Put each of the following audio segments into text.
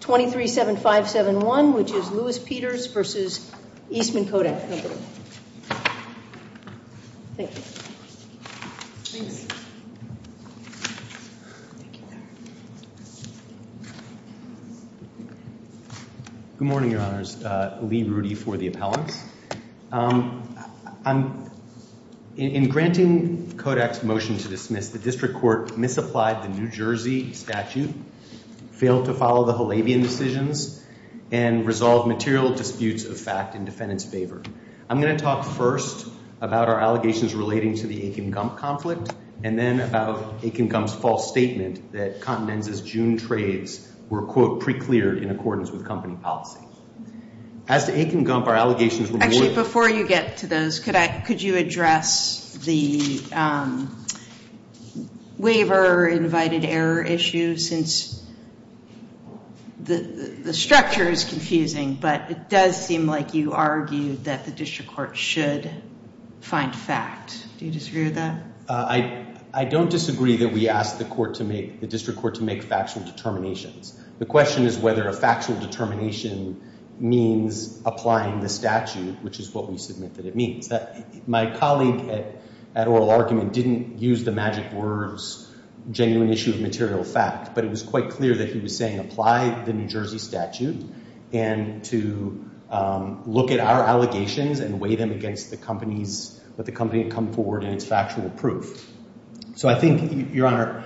237571 which is Louis Peters versus Eastman Kodak Company. Good morning your honors, Lee Rudy for the appellants. In granting Kodak's motion to dismiss, the district court misapplied the New Jersey statute, failed to follow the Halabian decisions, and resolved material disputes of fact in defendant's favor. I'm going to talk first about our allegations relating to the Akin-Gump conflict, and then about Akin-Gump's false statement that Continental's June trades were, quote, pre-cleared in accordance with company policy. As to Akin-Gump, our allegations were more... The structure is confusing, but it does seem like you argued that the district court should find fact. Do you disagree with that? I don't disagree that we asked the district court to make factual determinations. The question is whether a factual determination means applying the statute, which is what we submit that it means. My colleague at Oral Argument didn't use the magic words genuine issue of material fact, but it was quite clear that he was saying apply the New Jersey statute and to look at our allegations and weigh them against the companies that the company had come forward and its factual proof. So I think, your honor,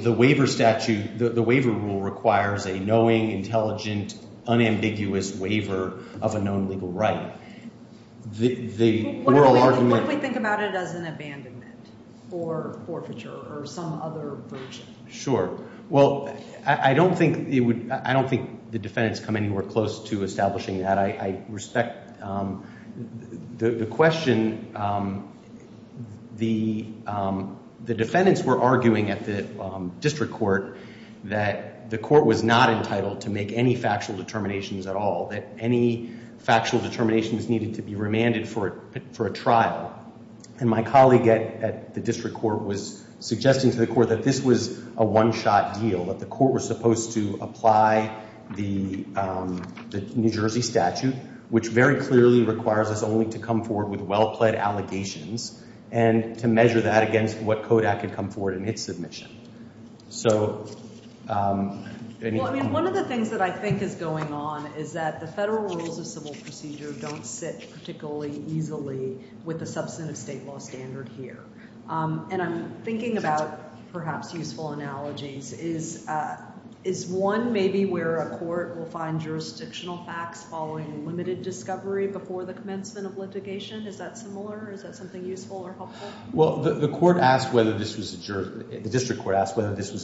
the waiver rule requires a knowing, intelligent, unambiguous waiver of a known legal right. What if we think about it as an abandonment or forfeiture or some other version? Sure. Well, I don't think the defendants come anywhere close to establishing that. I respect the question. The defendants were arguing at the district court that the court was not entitled to make any factual determinations at all, that any factual determination was needed to be remanded for a trial. And my colleague at the district court was suggesting to the court that this was a one-shot deal, that the court was supposed to apply the New Jersey statute, which very clearly requires us only to come forward with well-pled allegations and to measure that against what Kodak had come forward in its submission. Well, I mean, one of the things that I think is going on is that the federal rules of civil procedure don't sit particularly easily with the substantive state law standard here. And I'm thinking about perhaps useful analogies. Is one maybe where a court will find jurisdictional facts following limited discovery before the commencement of litigation? Is that similar? Is that something useful or helpful? Well, the court asked whether this was a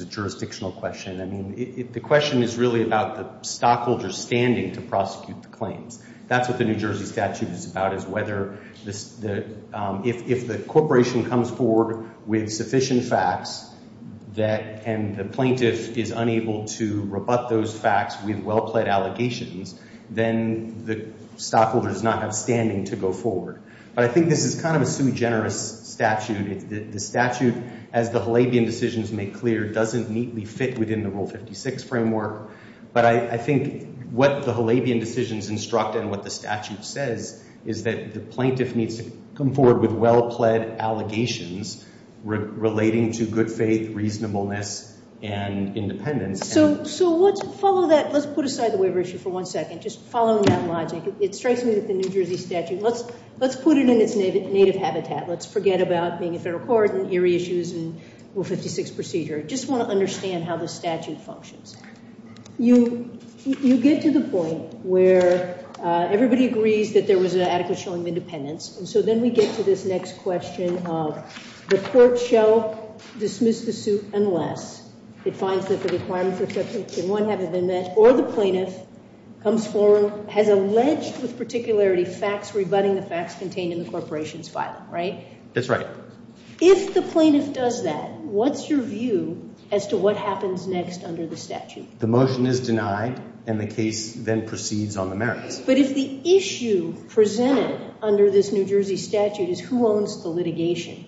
jurisdictional question. I mean, the question is really about the stockholder's standing to prosecute the claims. That's what the New Jersey statute is about, is whether if the corporation comes forward with sufficient facts and the plaintiff is unable to rebut those facts with well-pled allegations, then the stockholder does not have standing to go forward. But I think this is kind of a sui generis statute. The statute, as the Halabian decisions make clear, doesn't neatly fit within the Rule 56 framework. But I think what the Halabian decisions instruct and what the statute says is that the plaintiff needs to come forward with well-pled allegations relating to good faith, reasonableness, and independence. So let's follow that. Let's put aside the waiver issue for one second, just following that logic. It strikes me that the New Jersey statute, let's put it in its native habitat. Let's forget about being a federal court and Erie issues and Rule 56 procedure. I just want to understand how the statute functions. You get to the point where everybody agrees that there was an adequate showing of independence, and so then we get to this next question of the court shall dismiss the suit unless it finds that the requirements have been met or the plaintiff comes forward, has alleged with particularity facts, rebutting the facts contained in the corporation's file, right? That's right. If the plaintiff does that, what's your view as to what happens next under the statute? The motion is denied, and the case then proceeds on the merits. But if the issue presented under this New Jersey statute is who owns the litigation,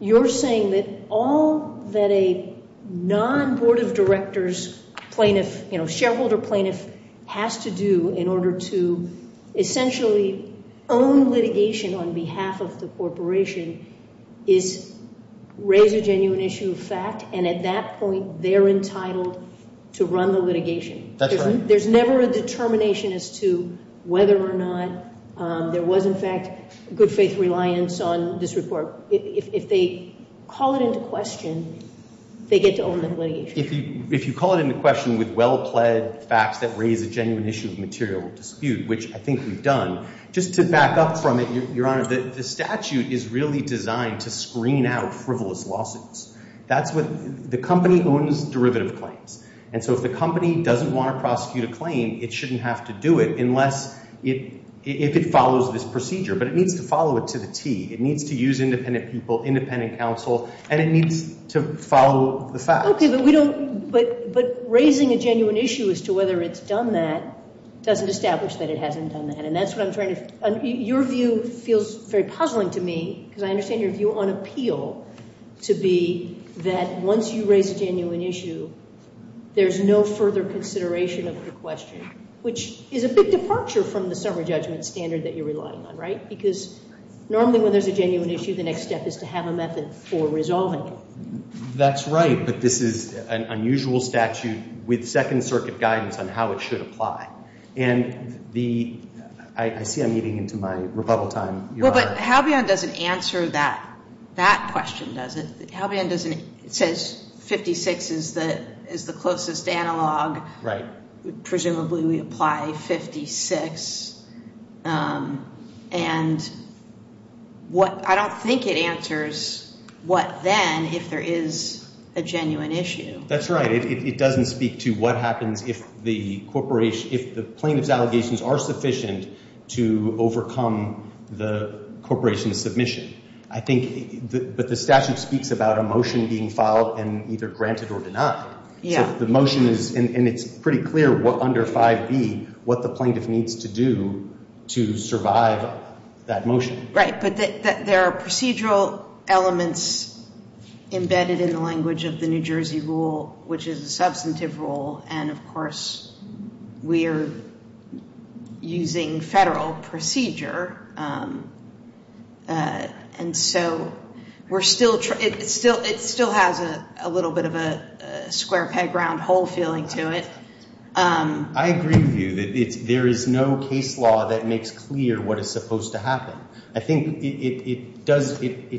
you're saying that all that a non-Board of Directors plaintiff, you know, shareholder plaintiff has to do in order to essentially own litigation on behalf of the corporation is raise a genuine issue of fact, and at that point they're entitled to run the litigation. That's right. There's never a determination as to whether or not there was, in fact, good faith reliance on this report. If they call it into question, they get to own the litigation. If you call it into question with well-plaid facts that raise a genuine issue of material dispute, which I think we've done, just to back up from it, Your Honor, the statute is really designed to screen out frivolous lawsuits. That's what the company owns derivative claims. And so if the company doesn't want to prosecute a claim, it shouldn't have to do it unless it – if it follows this procedure. But it needs to follow it to the T. It needs to use independent people, independent counsel, and it needs to follow the facts. Okay, but we don't – but raising a genuine issue as to whether it's done that doesn't establish that it hasn't done that. And that's what I'm trying to – your view feels very puzzling to me because I understand your view on appeal to be that once you raise a genuine issue, there's no further consideration of the question, which is a big departure from the summary judgment standard that you're relying on, right? Because normally when there's a genuine issue, the next step is to have a method for resolving it. That's right, but this is an unusual statute with Second Circuit guidance on how it should apply. And the – I see I'm eating into my rebuttal time, Your Honor. No, but Halbion doesn't answer that question, does it? Halbion doesn't – it says 56 is the closest analog. Right. Presumably we apply 56. And what – I don't think it answers what then if there is a genuine issue. That's right. No, it doesn't speak to what happens if the corporation – if the plaintiff's allegations are sufficient to overcome the corporation's submission. I think – but the statute speaks about a motion being filed and either granted or denied. Yeah. So the motion is – and it's pretty clear what under 5B, what the plaintiff needs to do to survive that motion. Right. But there are procedural elements embedded in the language of the New Jersey rule, which is a substantive rule. And, of course, we are using federal procedure. And so we're still – it still has a little bit of a square peg round hole feeling to it. I agree with you that there is no case law that makes clear what is supposed to happen. I think it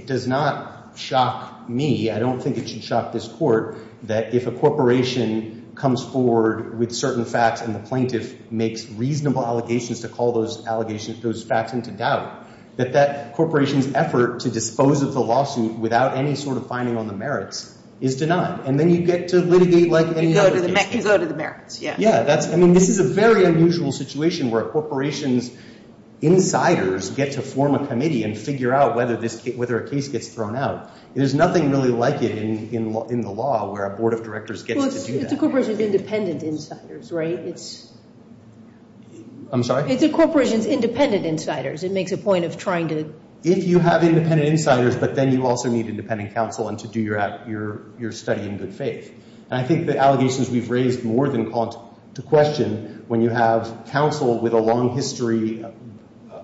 does not shock me. I don't think it should shock this court that if a corporation comes forward with certain facts and the plaintiff makes reasonable allegations to call those allegations – those facts into doubt, that that corporation's effort to dispose of the lawsuit without any sort of finding on the merits is denied. And then you get to litigate like any other case. You go to the merits. Yeah. I mean, this is a very unusual situation where a corporation's insiders get to form a committee and figure out whether a case gets thrown out. There's nothing really like it in the law where a board of directors gets to do that. Well, it's a corporation's independent insiders, right? I'm sorry? It's a corporation's independent insiders. It makes a point of trying to – If you have independent insiders, but then you also need independent counsel to do your study in good faith. And I think the allegations we've raised more than call to question, when you have counsel with a long history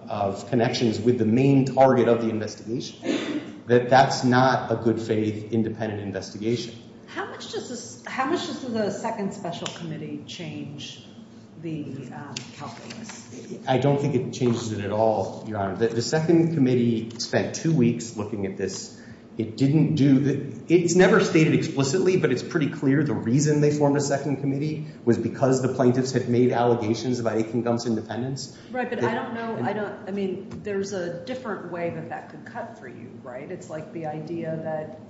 of connections with the main target of the investigation, that that's not a good faith independent investigation. How much does the second special committee change the calculus? I don't think it changes it at all, Your Honor. The second committee spent two weeks looking at this. It's never stated explicitly, but it's pretty clear the reason they formed a second committee was because the plaintiffs had made allegations about Akin Gump's independence. Right, but I don't know – I mean, there's a different way that that could cut for you, right? It's like the idea that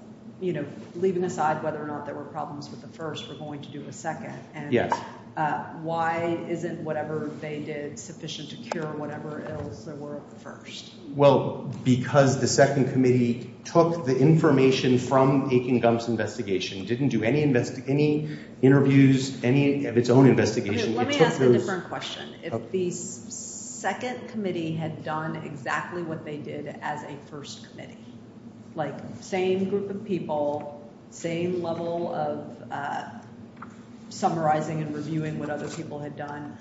leaving aside whether or not there were problems with the first, we're going to do a second. Yes. And why isn't whatever they did sufficient to cure whatever ills there were of the first? Well, because the second committee took the information from Akin Gump's investigation, didn't do any interviews, any of its own investigation. Let me ask a different question. If the second committee had done exactly what they did as a first committee, like same group of people, same level of summarizing and reviewing what other people had done,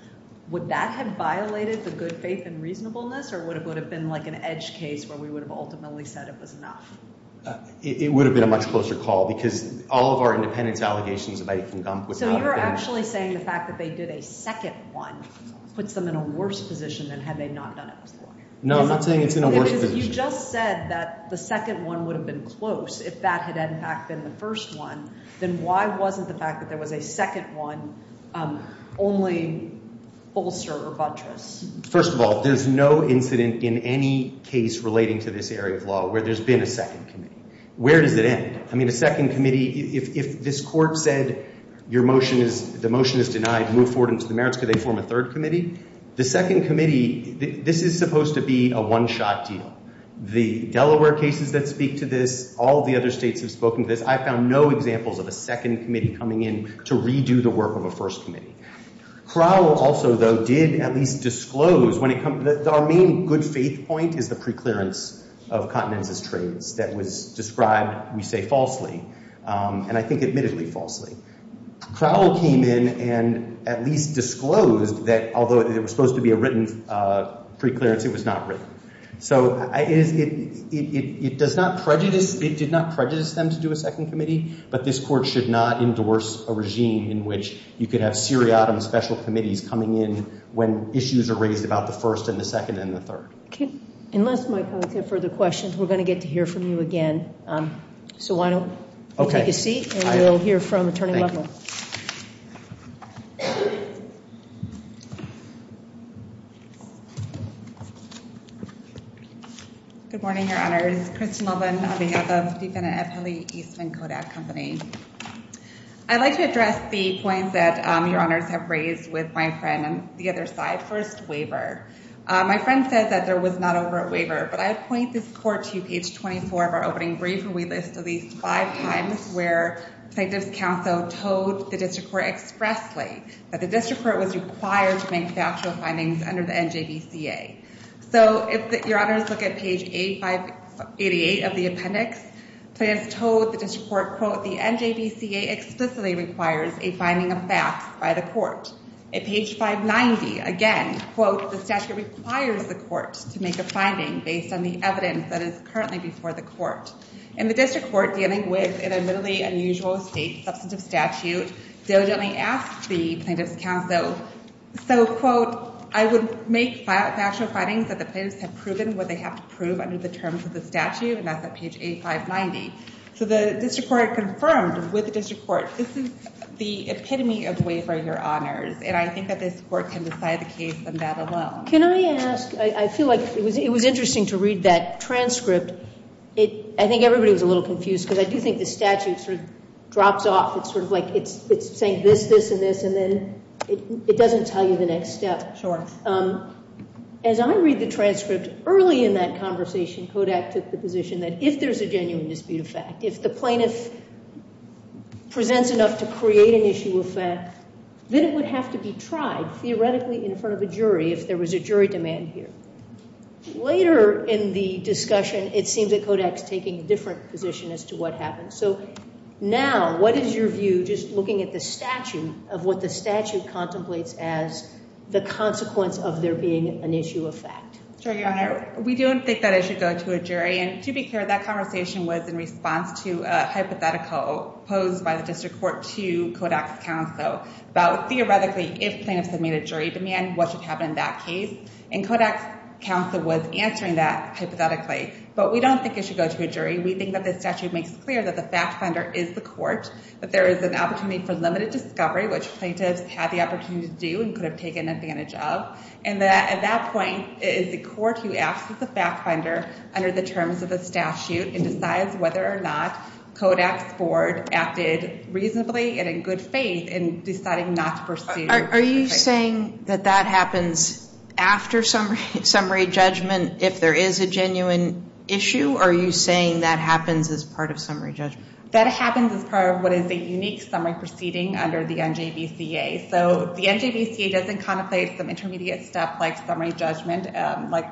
would that have violated the good faith and reasonableness, or would it have been like an edge case where we would have ultimately said it was enough? It would have been a much closer call because all of our independence allegations about Akin Gump would not have been – So you're actually saying the fact that they did a second one puts them in a worse position than had they not done it as a lawyer? No, I'm not saying it's in a worse position. Because if you just said that the second one would have been close if that had, in fact, been the first one, then why wasn't the fact that there was a second one only bolster or buttress? First of all, there's no incident in any case relating to this area of law where there's been a second committee. Where does it end? I mean, a second committee – if this court said your motion is – the motion is denied, move forward into the merits, could they form a third committee? The second committee – this is supposed to be a one-shot deal. The Delaware cases that speak to this, all the other states have spoken to this. I found no examples of a second committee coming in to redo the work of a first committee. Crowell also, though, did at least disclose when it – our main good-faith point is the preclearance of Continenza's trades that was described, we say, falsely, and I think admittedly falsely. Crowell came in and at least disclosed that although there was supposed to be a written preclearance, it was not written. So it does not prejudice – it did not prejudice them to do a second committee, but this court should not endorse a regime in which you could have seriatim special committees coming in when issues are raised about the first and the second and the third. Okay. Unless my colleagues have further questions, we're going to get to hear from you again. So why don't you take a seat and we'll hear from Attorney Lovell. Good morning, Your Honors. This is Kristin Lovell on behalf of Stephen and Eppeli Eastman Kodak Company. I'd like to address the points that Your Honors have raised with my friend on the other side. First, waiver. My friend said that there was not over a waiver, but I point this court to page 24 of our opening brief, where we list at least five times where plaintiff's counsel told the district court expressly that the district court was required to make factual findings under the NJVCA. So if Your Honors look at page A588 of the appendix, plaintiffs told the district court, quote, the NJVCA explicitly requires a finding of facts by the court. At page 590, again, quote, the statute requires the court to make a finding based on the evidence that is currently before the court. In the district court dealing with an admittedly unusual state substantive statute, they diligently asked the plaintiff's counsel, so, quote, I would make factual findings that the plaintiffs have proven what they have to prove under the terms of the statute, and that's at page A590. So the district court confirmed with the district court, this is the epitome of waiver, Your Honors, and I think that this court can decide the case on that alone. Can I ask? I feel like it was interesting to read that transcript. I think everybody was a little confused because I do think the statute sort of drops off. It's sort of like it's saying this, this, and this, and then it doesn't tell you the next step. As I read the transcript, early in that conversation, Kodak took the position that if there's a genuine dispute of fact, if the plaintiff presents enough to create an issue of fact, then it would have to be tried theoretically in front of a jury if there was a jury demand here. Later in the discussion, it seems that Kodak's taking a different position as to what happened. So now, what is your view, just looking at the statute, of what the statute contemplates as the consequence of there being an issue of fact? Sure, Your Honor. We don't think that it should go to a jury, and to be clear, that conversation was in response to a hypothetical posed by the district court to Kodak's counsel about theoretically if plaintiffs had made a jury demand, what should happen in that case, and Kodak's counsel was answering that hypothetically, but we don't think it should go to a jury. We think that the statute makes clear that the fact finder is the court, that there is an opportunity for limited discovery, which plaintiffs had the opportunity to do and could have taken advantage of, and that at that point, it is the court who acts as the fact finder under the terms of the statute and decides whether or not Kodak's board acted reasonably and in good faith in deciding not to pursue the case. Are you saying that that happens after summary judgment if there is a genuine issue, or are you saying that happens as part of summary judgment? That happens as part of what is a unique summary proceeding under the NJVCA. So the NJVCA doesn't contemplate some intermediate step like summary judgment, like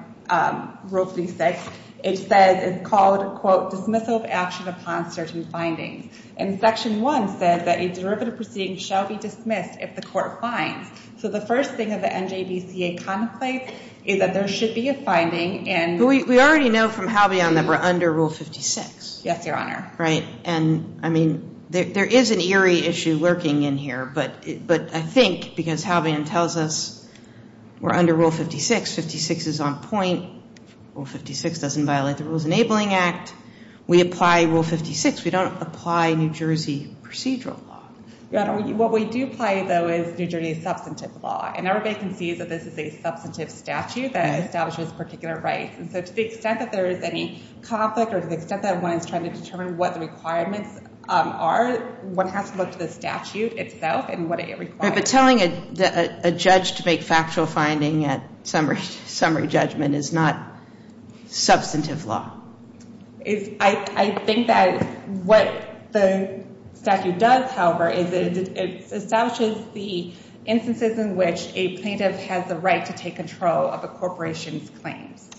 Rule 36. It says it's called, quote, dismissal of action upon certain findings, and Section 1 says that a derivative proceeding shall be dismissed if the court finds. So the first thing that the NJVCA contemplates is that there should be a finding and We already know from Halvion that we're under Rule 56. Yes, Your Honor. Right, and I mean, there is an eerie issue lurking in here, but I think because Halvion tells us we're under Rule 56, 56 is on point. Rule 56 doesn't violate the Rules Enabling Act. We apply Rule 56. We don't apply New Jersey procedural law. What we do apply, though, is New Jersey substantive law, and everybody can see that this is a substantive statute that establishes particular rights. And so to the extent that there is any conflict or to the extent that one is trying to determine what the requirements are, one has to look to the statute itself and what it requires. But telling a judge to make factual finding at summary judgment is not substantive law. I think that what the statute does, however, is it establishes the instances in which a plaintiff has the right to take control of a corporation's claims.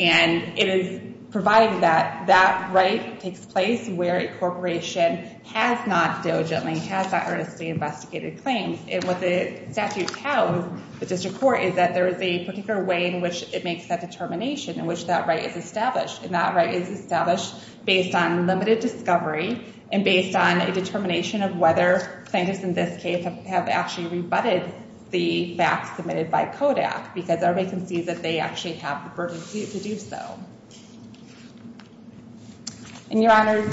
And it is provided that that right takes place where a corporation has not diligently, has not earnestly investigated claims. And what the statute tells the district court is that there is a particular way in which it makes that determination in which that right is established. And that right is established based on limited discovery and based on a determination of whether plaintiffs in this case have actually rebutted the facts submitted by CODAC because everybody can see that they actually have the burden to do so. And, Your Honors,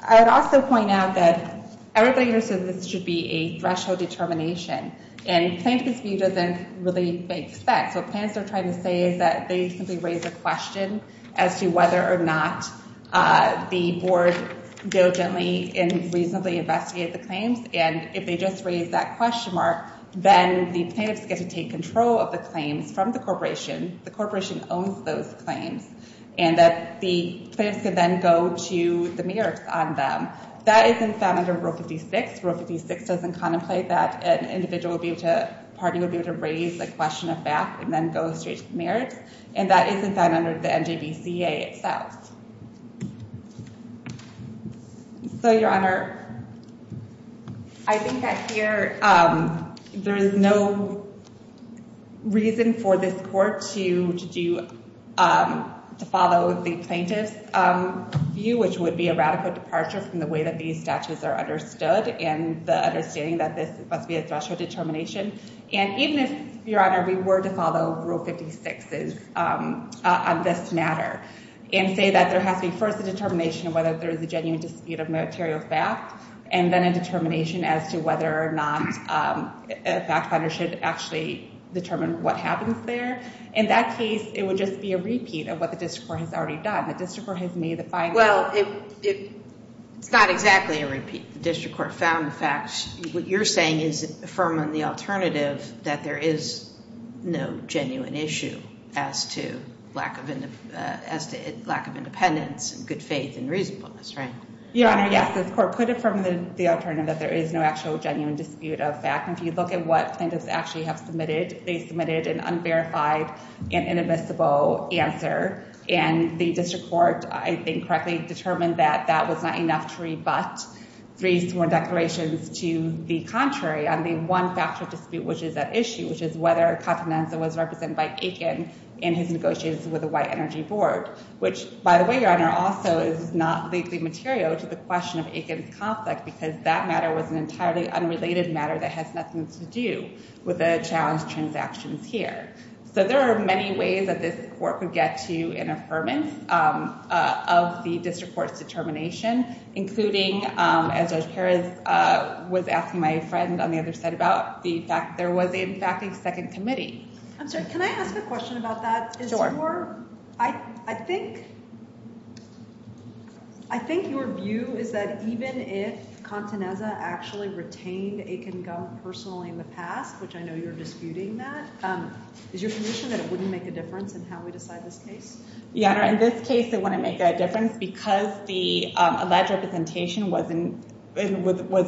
I would also point out that everybody understands this should be a threshold determination. And plaintiff's view doesn't really make sense. What plaintiffs are trying to say is that they simply raise a question as to whether or not the board diligently and reasonably investigated the claims. And if they just raise that question mark, then the plaintiffs get to take control of the claims from the corporation. The corporation owns those claims. And that the plaintiffs can then go to the mayor on them. That isn't found under Rule 56. Rule 56 doesn't contemplate that an individual will be able to, a party will be able to raise a question of fact and then go straight to the mayor. And that isn't found under the NJBCA itself. So, Your Honor, I think that here there is no reason for this court to follow the plaintiff's view, which would be a radical departure from the way that these statutes are understood and the understanding that this must be a threshold determination. And even if, Your Honor, we were to follow Rule 56's on this matter and say that there has to be first a determination of whether there is a genuine dispute of material fact and then a determination as to whether or not a fact finder should actually determine what happens there, in that case it would just be a repeat of what the district court has already done. The district court has made the finding. Well, it's not exactly a repeat. The district court found the facts. What you're saying is affirming the alternative that there is no genuine issue as to lack of independence and good faith and reasonableness, right? Your Honor, yes. This court could affirm the alternative that there is no actual genuine dispute of fact. If you look at what plaintiffs actually have submitted, they submitted an unverified and inadmissible answer. And the district court, I think, correctly determined that that was not enough to rebut three sworn declarations to the contrary on the one factor of dispute which is at issue, which is whether Contenanza was represented by Aiken in his negotiations with the White Energy Board, which, by the way, Your Honor, also is not legally material to the question of Aiken's conflict because that matter was an entirely unrelated matter that has nothing to do with the challenge transactions here. So there are many ways that this court could get to an affirmance of the district court's determination, including, as Judge Perez was asking my friend on the other side about, the fact that there was, in fact, a second committee. I'm sorry. Can I ask a question about that? Sure. I think your view is that even if Contenanza actually retained Aiken Gump personally in the past, which I know you're disputing that, is your position that it wouldn't make a difference in how we decide this case? Your Honor, in this case it wouldn't make a difference because the alleged representation was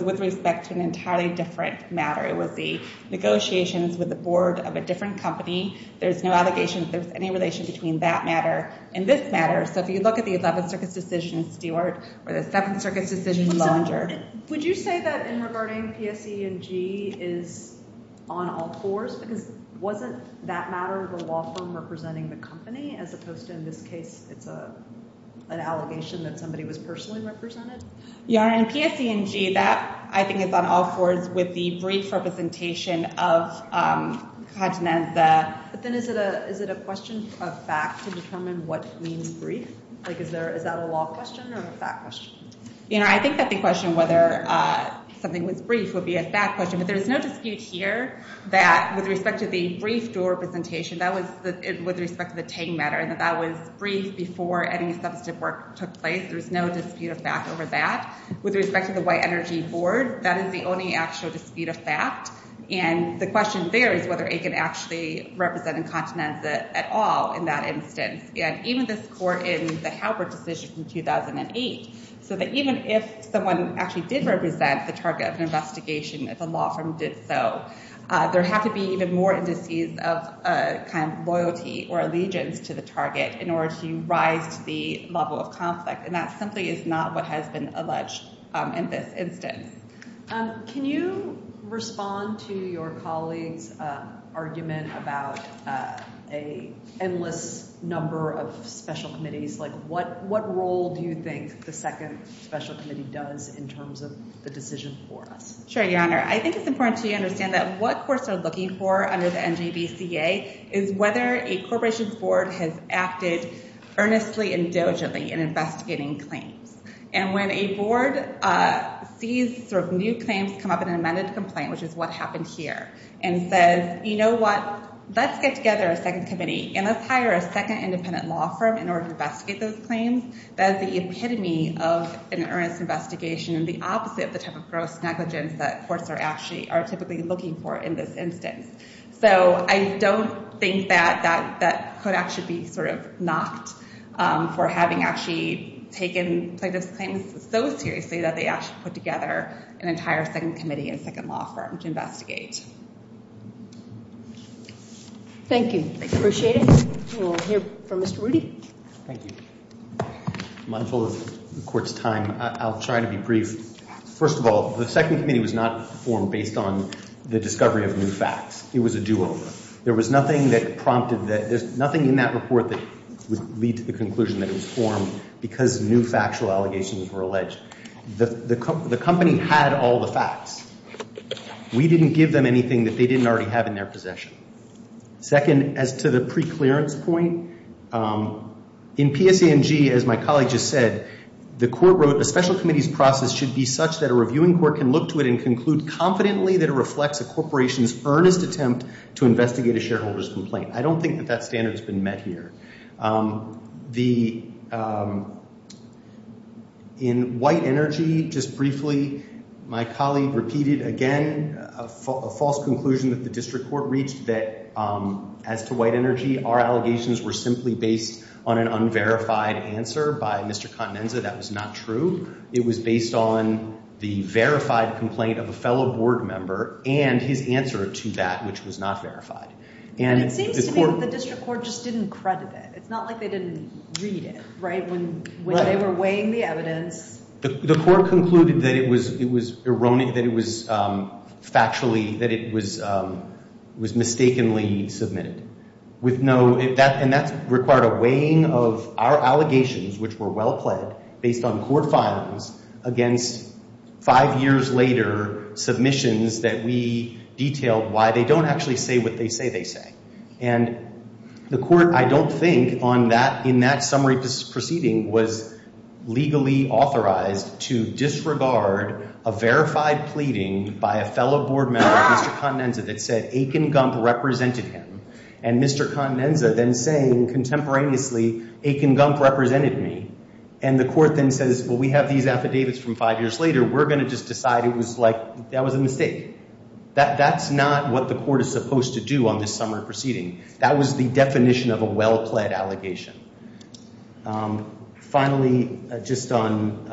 with respect to an entirely different matter. It was the negotiations with the board of a different company. There's no allegation that there's any relation between that matter and this matter. So if you look at the 11th Circuit's decision, Stewart, or the 7th Circuit's decision, Lillinger. Would you say that in regarding PSE&G is on all fours? Because wasn't that matter the law firm representing the company, as opposed to in this case it's an allegation that somebody was personally represented? Your Honor, in PSE&G that I think is on all fours with the brief representation of Contenanza. But then is it a question of fact to determine what means brief? Is that a law question or a fact question? Your Honor, I think that the question whether something was brief would be a fact question. But there's no dispute here that with respect to the brief dual representation, that was with respect to the Tang matter, and that that was brief before any substantive work took place. There's no dispute of fact over that. With respect to the White Energy Board, that is the only actual dispute of fact. And the question there is whether it could actually represent Contenanza at all in that instance. And even this court in the Halpert decision in 2008, so that even if someone actually did represent the target of an investigation, if a law firm did so, there had to be even more indices of kind of loyalty or allegiance to the target in order to rise to the level of conflict. And that simply is not what has been alleged in this instance. Can you respond to your colleague's argument about an endless number of special committees? Like what role do you think the second special committee does in terms of the decision for us? Sure, Your Honor. I think it's important to understand that what courts are looking for under the NJDCA is whether a corporation's board has acted earnestly and diligently in investigating claims. And when a board sees new claims come up in an amended complaint, which is what happened here, and says, you know what, let's get together a second committee and let's hire a second independent law firm in order to investigate those claims, that is the epitome of an earnest investigation and the opposite of the type of gross negligence that courts are typically looking for in this instance. So I don't think that that could actually be sort of knocked for having actually taken plaintiff's claims so seriously that they actually put together an entire second committee and second law firm to investigate. Thank you. I appreciate it. We'll hear from Mr. Rudy. Thank you. I'm full of court's time. I'll try to be brief. First of all, the second committee was not formed based on the discovery of new facts. It was a do-over. There was nothing that prompted that. There's nothing in that report that would lead to the conclusion that it was formed because new factual allegations were alleged. The company had all the facts. We didn't give them anything that they didn't already have in their possession. Second, as to the preclearance point, in PSANG, as my colleague just said, the court wrote, a special committee's process should be such that a reviewing court can look to it and conclude confidently that it reflects a corporation's earnest attempt to investigate a shareholder's complaint. I don't think that that standard has been met here. In White Energy, just briefly, my colleague repeated again a false conclusion that the district court reached that as to White Energy, our allegations were simply based on an unverified answer by Mr. Contenanza. That was not true. It was based on the verified complaint of a fellow board member and his answer to that, which was not verified. And it seems to me that the district court just didn't credit it. It's not like they didn't read it, right, when they were weighing the evidence. The court concluded that it was factually, that it was mistakenly submitted. And that required a weighing of our allegations, which were well pled based on court files, against five years later submissions that we detailed why they don't actually say what they say they say. And the court, I don't think, in that summary proceeding, was legally authorized to disregard a verified pleading by a fellow board member, Mr. Contenanza, that said Aiken Gump represented him and Mr. Contenanza then saying contemporaneously Aiken Gump represented me. And the court then says, well, we have these affidavits from five years later. We're going to just decide it was like that was a mistake. That's not what the court is supposed to do on this summary proceeding. That was the definition of a well pled allegation. Finally, just on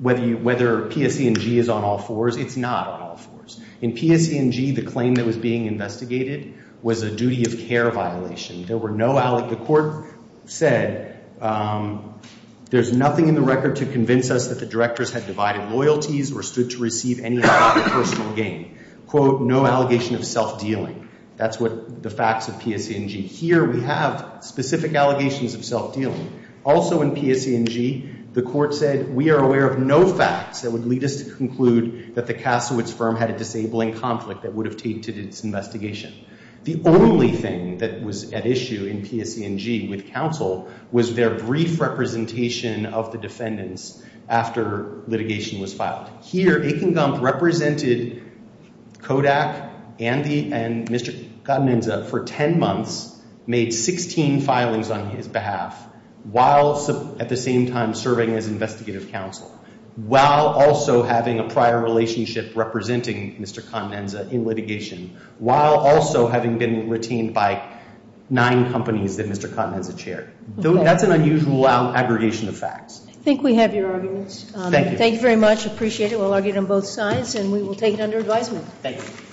whether PSE&G is on all fours. It's not on all fours. In PSE&G, the claim that was being investigated was a duty of care violation. The court said there's nothing in the record to convince us that the directors had divided loyalties or stood to receive any kind of personal gain. Quote, no allegation of self-dealing. That's what the facts of PSE&G. Here we have specific allegations of self-dealing. Also in PSE&G, the court said we are aware of no facts that would lead us to conclude that the Kasowitz firm had a disabling conflict that would have tainted its investigation. The only thing that was at issue in PSE&G with counsel was their brief representation of the defendants after litigation was filed. Here, Aiken Gump represented Kodak, Andy, and Mr. Gotteninza for 10 months, made 16 filings on his behalf, while at the same time serving as investigative counsel, while also having a prior relationship representing Mr. Gotteninza in litigation, while also having been retained by nine companies that Mr. Gotteninza chaired. That's an unusual aggregation of facts. I think we have your arguments. Thank you. Thank you very much. I appreciate it. We'll argue it on both sides, and we will take it under advisement. Thank you.